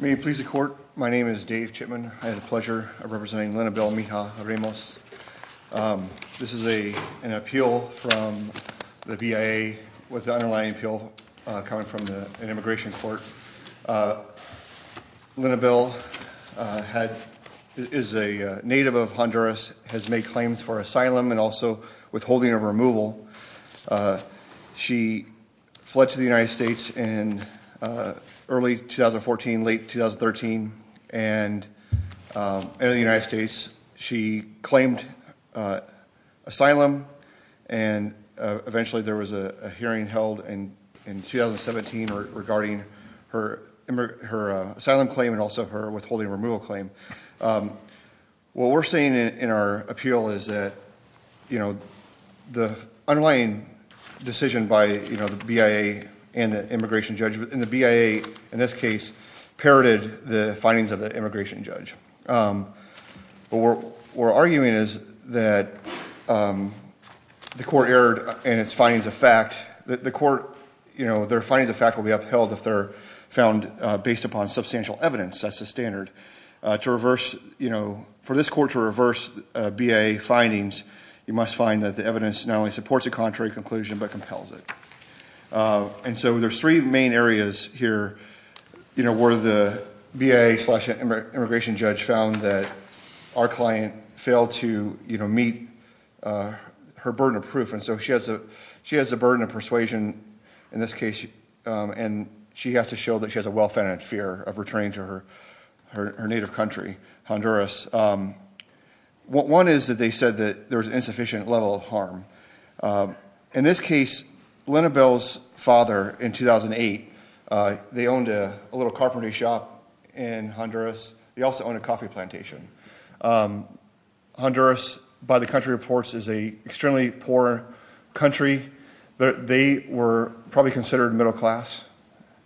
May it please the Court, my name is Dave Chipman. I had the pleasure of representing Linabel Mejia-Ramos. This is an appeal from the BIA with the underlying appeal coming from an immigration court. Linabel is a native of Honduras, has made claims for asylum and also withholding of removal. She fled to the United States in early 2014, late 2013 and entered the United States. She claimed asylum and eventually there was a hearing held in 2017 regarding her asylum claim and also her withholding removal claim. What we're saying in our appeal is that the underlying decision by the BIA and the immigration judge, and the BIA in this case parroted the findings of the immigration judge. What we're arguing is that the court erred in its findings of fact. The court, their findings of fact will be upheld if they're found based upon substantial evidence. That's the standard. To reverse, you know, for this court to reverse BIA findings, you must find that the evidence not only supports a contrary conclusion but compels it. And so there's three main areas here, you know, where the BIA slash immigration judge found that our client failed to meet her burden of proof. And so she has a burden of persuasion in this case. And she has to show that she has a well-founded fear of returning to her native country, Honduras. One is that they said that there was an insufficient level of harm. In this case, Linabel's father in 2008, they owned a little carpentry shop in Honduras. They also owned a coffee plantation. Honduras, by the country reports, is a extremely poor country. They were probably considered middle class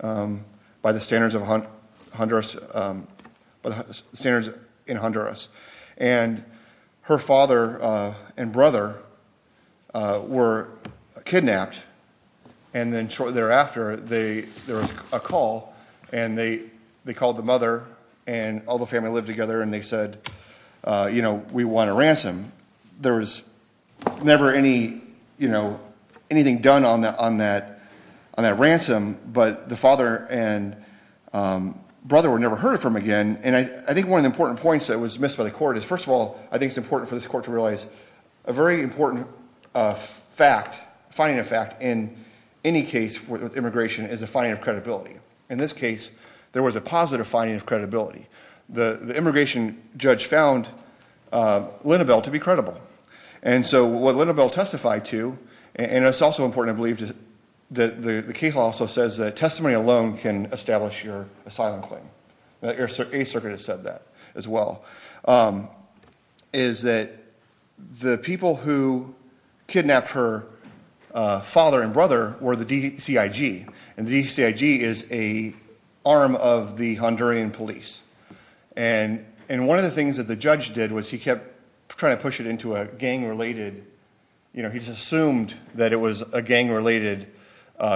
by the standards in Honduras. And her father and brother were kidnapped. And then shortly thereafter, there was a call. And they called the mother, and all the family lived together, and they said, you know, we want a ransom. There was never any, you know, anything done on that ransom. But the father and brother were never heard from again. And I think one of the important points that was missed by the court is, first of all, I think it's important for this court to realize a very important fact, finding a fact in any case with immigration is a finding of credibility. The immigration judge found Linabel to be credible. And so what Linabel testified to, and it's also important, I believe, that the case also says that testimony alone can establish your asylum claim. The Eighth Circuit has said that as well, is that the people who kidnapped her father and brother were the DCIG. And the DCIG is an arm of the Honduran police. And one of the things that the judge did was he kept trying to push it into a gang-related, you know, he just assumed that it was a gang-related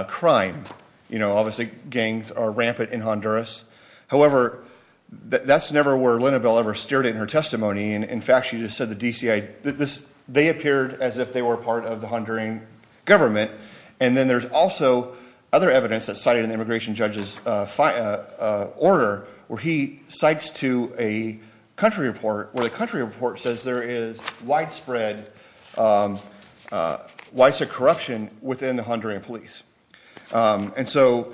crime. You know, obviously gangs are rampant in Honduras. However, that's never where Linabel ever steered in her testimony. In fact, she just said the DCIG, they appeared as if they were part of the Honduran government. And then there's also other evidence that's cited in the immigration judge's order, where he cites to a country report, where the country report says there is widespread, widespread corruption within the Honduran police. And so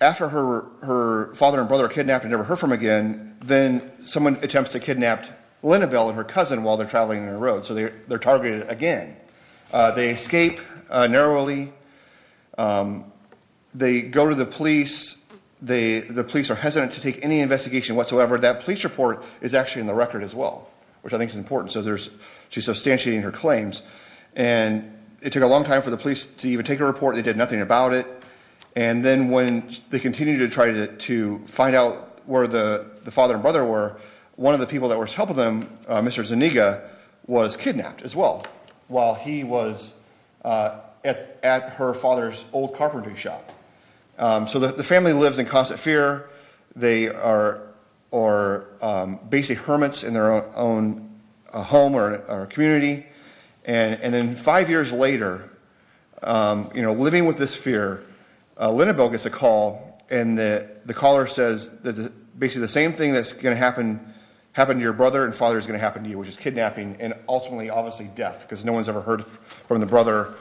after her father and brother were kidnapped and never heard from again, then someone attempts to kidnap Linabel and her cousin while they're traveling on the road. So they're targeted again. They escape narrowly. They go to the police. The police are hesitant to take any investigation whatsoever. That police report is actually in the record as well, which I think is important. So she's substantiating her claims. And it took a long time for the police to even take a report. They did nothing about it. And then when they continued to try to find out where the father and brother were, one of the people that was helping them, Mr. Zuniga, was kidnapped as well while he was at her father's old carpentry shop. So the family lives in constant fear. They are basically hermits in their own home or community. And then five years later, living with this fear, Linabel gets a call, and the caller says basically the same thing that's going to happen to your brother and father is going to happen to you, which is kidnapping and ultimately obviously death because no one's ever heard from the brother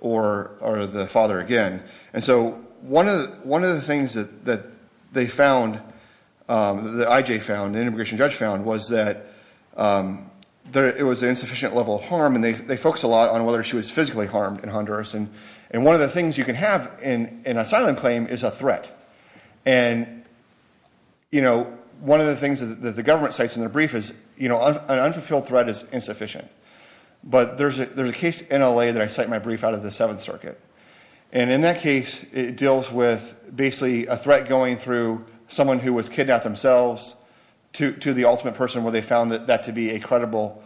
or the father again. And so one of the things that they found, that IJ found, the immigration judge found, was that it was an insufficient level of harm. And they focused a lot on whether she was physically harmed in Honduras. And one of the things you can have in an asylum claim is a threat. And one of the things that the government cites in their brief is an unfulfilled threat is insufficient. But there's a case in L.A. that I cite in my brief out of the Seventh Circuit. And in that case, it deals with basically a threat going through someone who was kidnapped themselves to the ultimate person where they found that to be a credible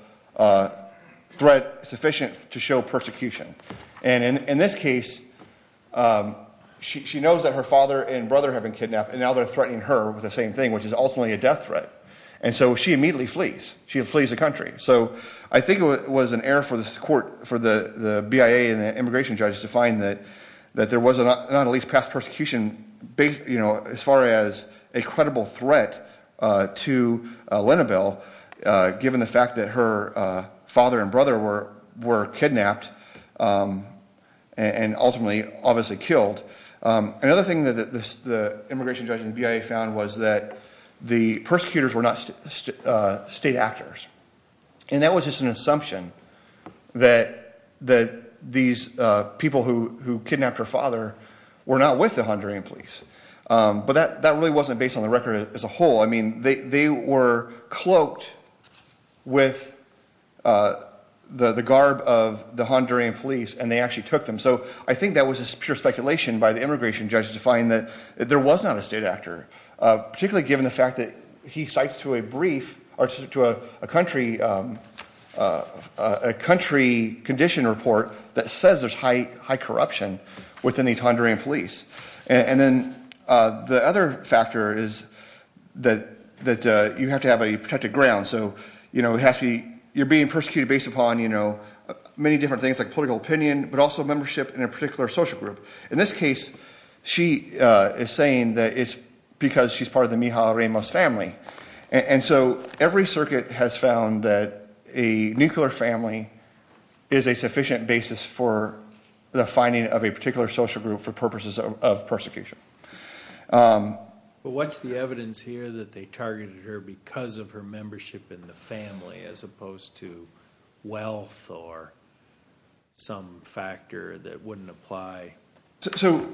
threat sufficient to show persecution. And in this case, she knows that her father and brother have been kidnapped, and now they're threatening her with the same thing, which is ultimately a death threat. And so she immediately flees. She flees the country. So I think it was an error for this court, for the BIA and the immigration judge, to find that there was not at least past persecution as far as a credible threat to Linabel, given the fact that her father and brother were kidnapped and ultimately obviously killed. Another thing that the immigration judge and BIA found was that the persecutors were not state actors. And that was just an assumption that these people who kidnapped her father were not with the Honduran police. But that really wasn't based on the record as a whole. I mean, they were cloaked with the garb of the Honduran police, and they actually took them. So I think that was just pure speculation by the immigration judge to find that there was not a state actor, particularly given the fact that he cites to a brief or to a country condition report that says there's high corruption within these Honduran police. And then the other factor is that you have to have a protected ground. So, you know, you're being persecuted based upon, you know, many different things like political opinion, but also membership in a particular social group. In this case, she is saying that it's because she's part of the Mija Ramos family. And so every circuit has found that a nuclear family is a sufficient basis for the finding of a particular social group for purposes of persecution. But what's the evidence here that they targeted her because of her membership in the family, as opposed to wealth or some factor that wouldn't apply? So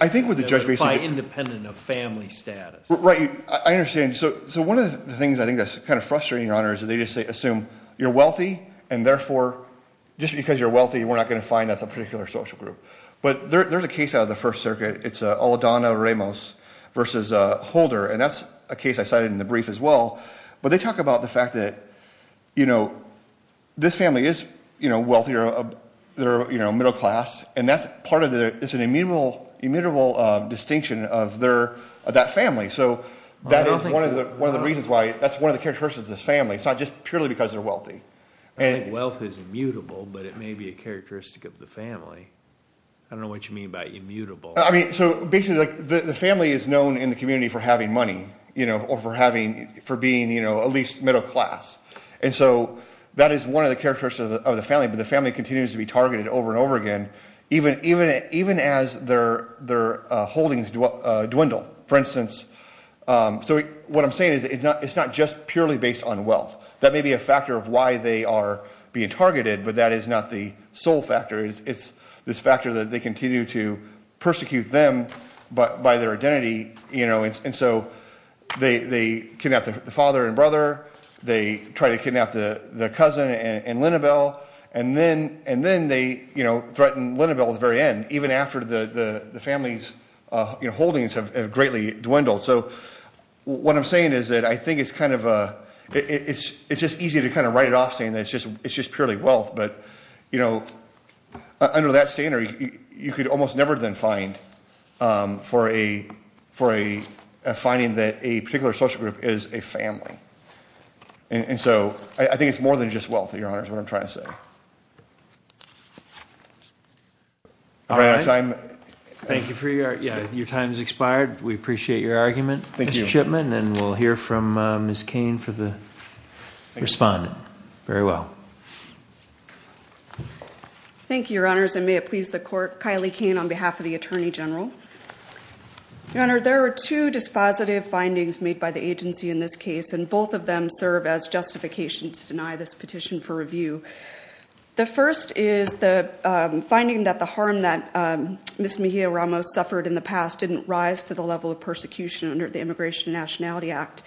I think what the judge basically- That would apply independent of family status. Right. I understand. So one of the things I think that's kind of frustrating, Your Honor, is that they just assume you're wealthy, and therefore, just because you're wealthy, we're not going to find that's a particular social group. But there's a case out of the First Circuit. It's Olodana Ramos versus Holder. And that's a case I cited in the brief as well. But they talk about the fact that, you know, this family is, you know, wealthy or they're, you know, middle class. And that's part of the- It's an immutable distinction of that family. So that is one of the reasons why- That's one of the characteristics of this family. It's not just purely because they're wealthy. I think wealth is immutable, but it may be a characteristic of the family. I don't know what you mean by immutable. I mean, so basically, like, the family is known in the community for having money, you know, or for having- for being, you know, at least middle class. And so that is one of the characteristics of the family. But the family continues to be targeted over and over again, even as their holdings dwindle. For instance, so what I'm saying is it's not just purely based on wealth. That may be a factor of why they are being targeted, but that is not the sole factor. It's this factor that they continue to persecute them by their identity, you know. And so they kidnap the father and brother. They try to kidnap the cousin and Linabel. And then they, you know, threaten Linabel at the very end, even after the family's holdings have greatly dwindled. So what I'm saying is that I think it's kind of a- it's just easy to kind of write it off saying that it's just purely wealth, but, you know, under that standard, you could almost never then find for a finding that a particular social group is a family. And so I think it's more than just wealth, Your Honor, is what I'm trying to say. All right. I'm- Thank you for your- yeah, your time has expired. We appreciate your argument, Mr. Chipman. And we'll hear from Ms. Cain for the respondent. Very well. Thank you, Your Honors. And may it please the court, Kylie Cain on behalf of the Attorney General. Your Honor, there are two dispositive findings made by the agency in this case. And both of them serve as justification to deny this petition for review. The first is the finding that the harm that Ms. Mejia-Ramos suffered in the past didn't rise to the level of persecution under the Immigration and Nationality Act.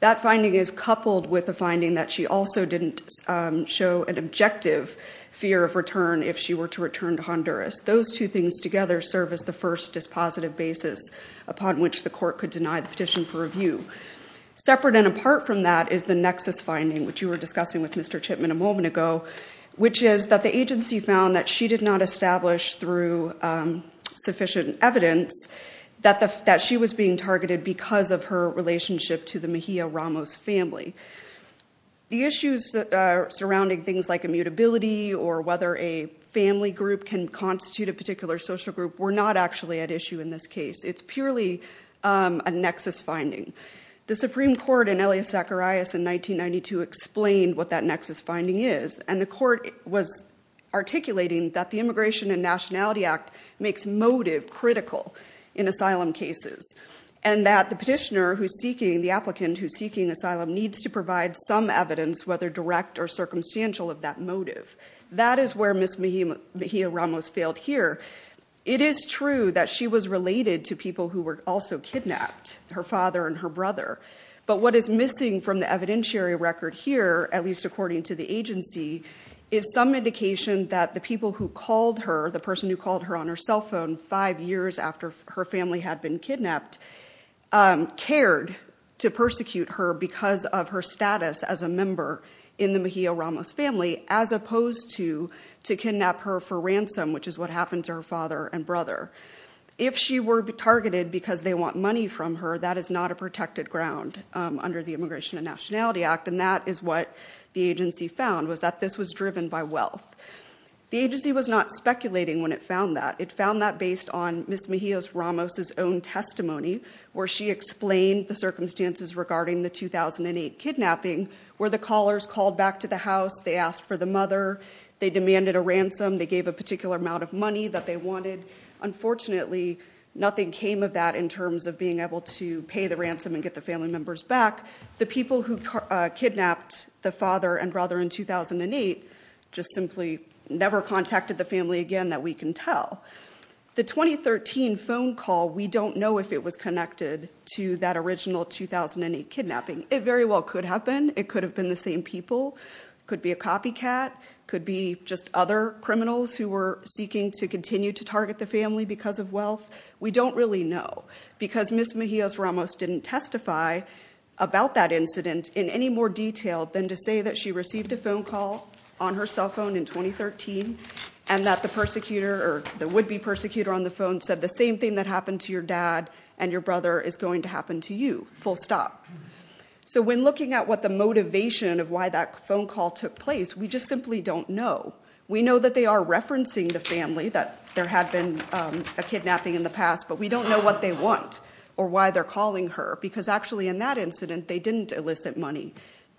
That finding is coupled with the finding that she also didn't show an objective fear of return if she were to return to Honduras. Those two things together serve as the first dispositive basis upon which the court could deny the petition for review. Separate and apart from that is the nexus finding, which you were discussing with Mr. Chipman a moment ago, which is that the agency found that she did not establish through sufficient evidence that she was being targeted because of her relationship to the Mejia-Ramos family. The issues surrounding things like immutability or whether a family group can constitute a particular social group were not actually at issue in this case. It's purely a nexus finding. The Supreme Court in Elias Zacharias in 1992 explained what that nexus finding is. And the court was articulating that the Immigration and Nationality Act makes motive critical in asylum cases and that the petitioner who's seeking, the applicant who's seeking asylum, needs to provide some evidence, whether direct or circumstantial, of that motive. That is where Ms. Mejia-Ramos failed here. It is true that she was related to people who were also kidnapped, her father and her brother. But what is missing from the evidentiary record here, at least according to the agency, is some indication that the people who called her, the person who called her on her cell phone five years after her family had been kidnapped, cared to persecute her because of her status as a member in the Mejia-Ramos family as opposed to to kidnap her for ransom, which is what happened to her father and brother. If she were targeted because they want money from her, that is not a protected ground under the Immigration and Nationality Act. And that is what the agency found, was that this was driven by wealth. The agency was not speculating when it found that. It found that based on Ms. Mejia-Ramos' own testimony, where she explained the circumstances regarding the 2008 kidnapping, where the callers called back to the house, they asked for the mother, they demanded a ransom, they gave a particular amount of money that they wanted. Unfortunately, nothing came of that in terms of being able to pay the ransom and get the family members back. The people who kidnapped the father and brother in 2008 just simply never contacted the family again that we can tell. The 2013 phone call, we don't know if it was connected to that original 2008 kidnapping. It very well could have been. It could have been the same people. Could be a copycat. Could be just other criminals who were seeking to continue to target the family because of wealth. We don't really know. Because Ms. Mejia-Ramos didn't testify about that incident in any more detail than to say that she received a phone call on her cell phone in 2013. And that the persecutor, or the would-be persecutor on the phone, said the same thing that happened to your dad and your brother is going to happen to you, full stop. So when looking at what the motivation of why that phone call took place, we just simply don't know. We know that they are referencing the family, that there had been a kidnapping in the past, but we don't know what they want or why they're calling her. Because actually, in that incident, they didn't elicit money.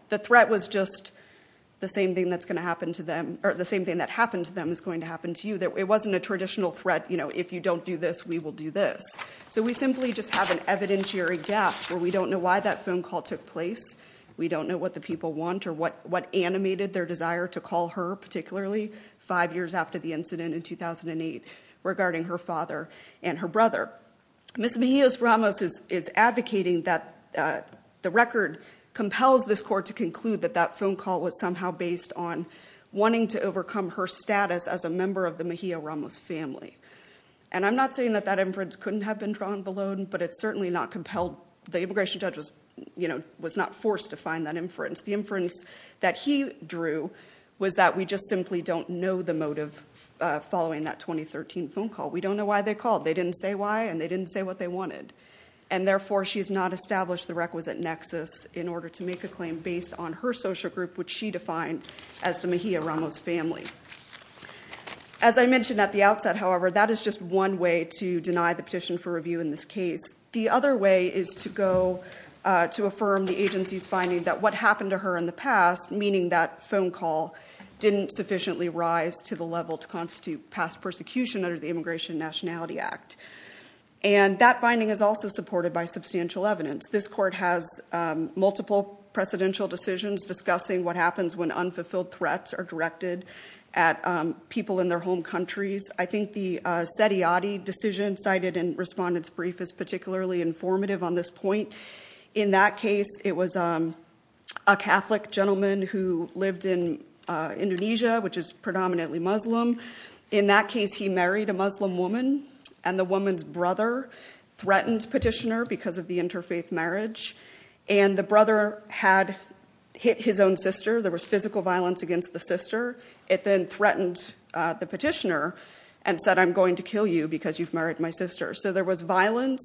The threat was just the same thing that's going to happen to them, or the same thing that happened to them is going to happen to you. It wasn't a traditional threat, you know, if you don't do this, we will do this. So we simply just have an evidentiary gap where we don't know why that phone call took place. We don't know what the people want or what animated their desire to call her, particularly five years after the incident in 2008 regarding her father and her brother. Ms. Mejia-Ramos is advocating that the record compels this court to conclude that that phone call was somehow based on wanting to overcome her status as a member of the Mejia-Ramos family. And I'm not saying that that inference couldn't have been drawn below, but it's certainly not compelled. The immigration judge was not forced to find that inference. The inference that he drew was that we just simply don't know the motive following that 2013 phone call. We don't know why they called. They didn't say why, and they didn't say what they wanted. And therefore, she's not established the requisite nexus in order to make a claim based on her social group, which she defined as the Mejia-Ramos family. As I mentioned at the outset, however, that is just one way to deny the petition for review in this case. The other way is to go to affirm the agency's finding that what happened to her in the past, meaning that phone call didn't sufficiently rise to the level to constitute past persecution under the Immigration and Nationality Act. And that finding is also supported by substantial evidence. This court has multiple precedential decisions discussing what happens when unfulfilled threats are directed at people in their home countries. I think the Seti Adi decision cited in Respondent's brief is particularly informative on this point. In that case, it was a Catholic gentleman who lived in Indonesia, which is predominantly Muslim. In that case, he married a Muslim woman, and the woman's brother threatened petitioner because of the interfaith marriage. And the brother had hit his own sister. There was physical violence against the sister. It then threatened the petitioner and said, I'm going to kill you because you've married my sister. So there was violence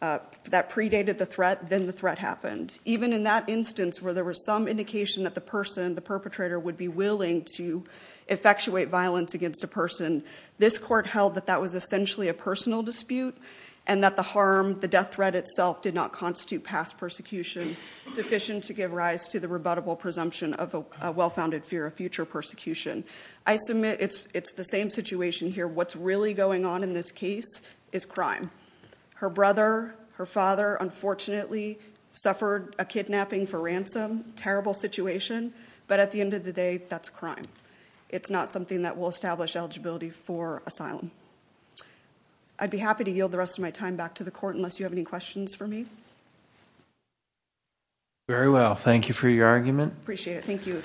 that predated the threat. Then the threat happened. And even in that instance where there was some indication that the person, the perpetrator, would be willing to effectuate violence against a person, this court held that that was essentially a personal dispute and that the harm, the death threat itself, did not constitute past persecution sufficient to give rise to the rebuttable presumption of a well-founded fear of future persecution. I submit it's the same situation here. What's really going on in this case is crime. Her brother, her father, unfortunately, suffered a kidnapping for ransom. Terrible situation. But at the end of the day, that's a crime. It's not something that will establish eligibility for asylum. I'd be happy to yield the rest of my time back to the court unless you have any questions for me. Very well. Thank you for your argument. Appreciate it. Thank you.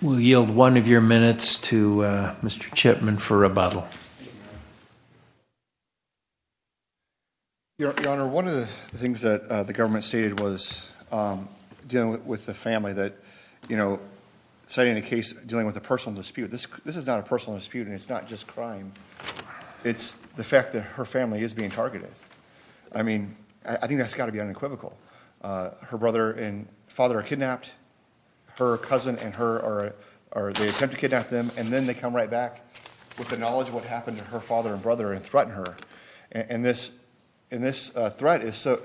We'll yield one of your minutes to Mr. Chipman for rebuttal. Your Honor, one of the things that the government stated was dealing with the family that, you know, citing the case dealing with a personal dispute, this is not a personal dispute and it's not just crime. It's the fact that her family is being targeted. I mean, I think that's got to be unequivocal. Her brother and father are kidnapped. Her cousin and her are, they attempt to kidnap them, and then they come right back with the knowledge of what happened to her father and brother and threaten her. And this threat is so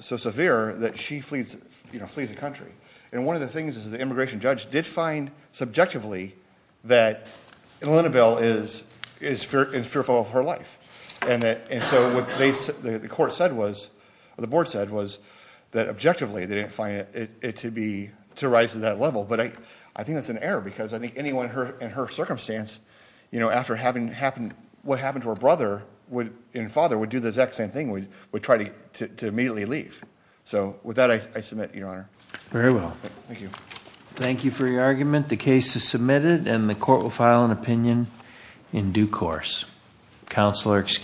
severe that she flees the country. And one of the things is the immigration judge did find subjectively that Elena Bell is fearful of her life. And so what the court said was, the board said, was that objectively they didn't find it to rise to that level. But I think that's an error because I think anyone in her circumstance, you know, after what happened to her brother and father would do the exact same thing, would try to immediately leave. So with that, I submit, Your Honor. Very well. Thank you. Thank you for your argument. The case is submitted and the court will file an opinion in due course. Counsel are excused.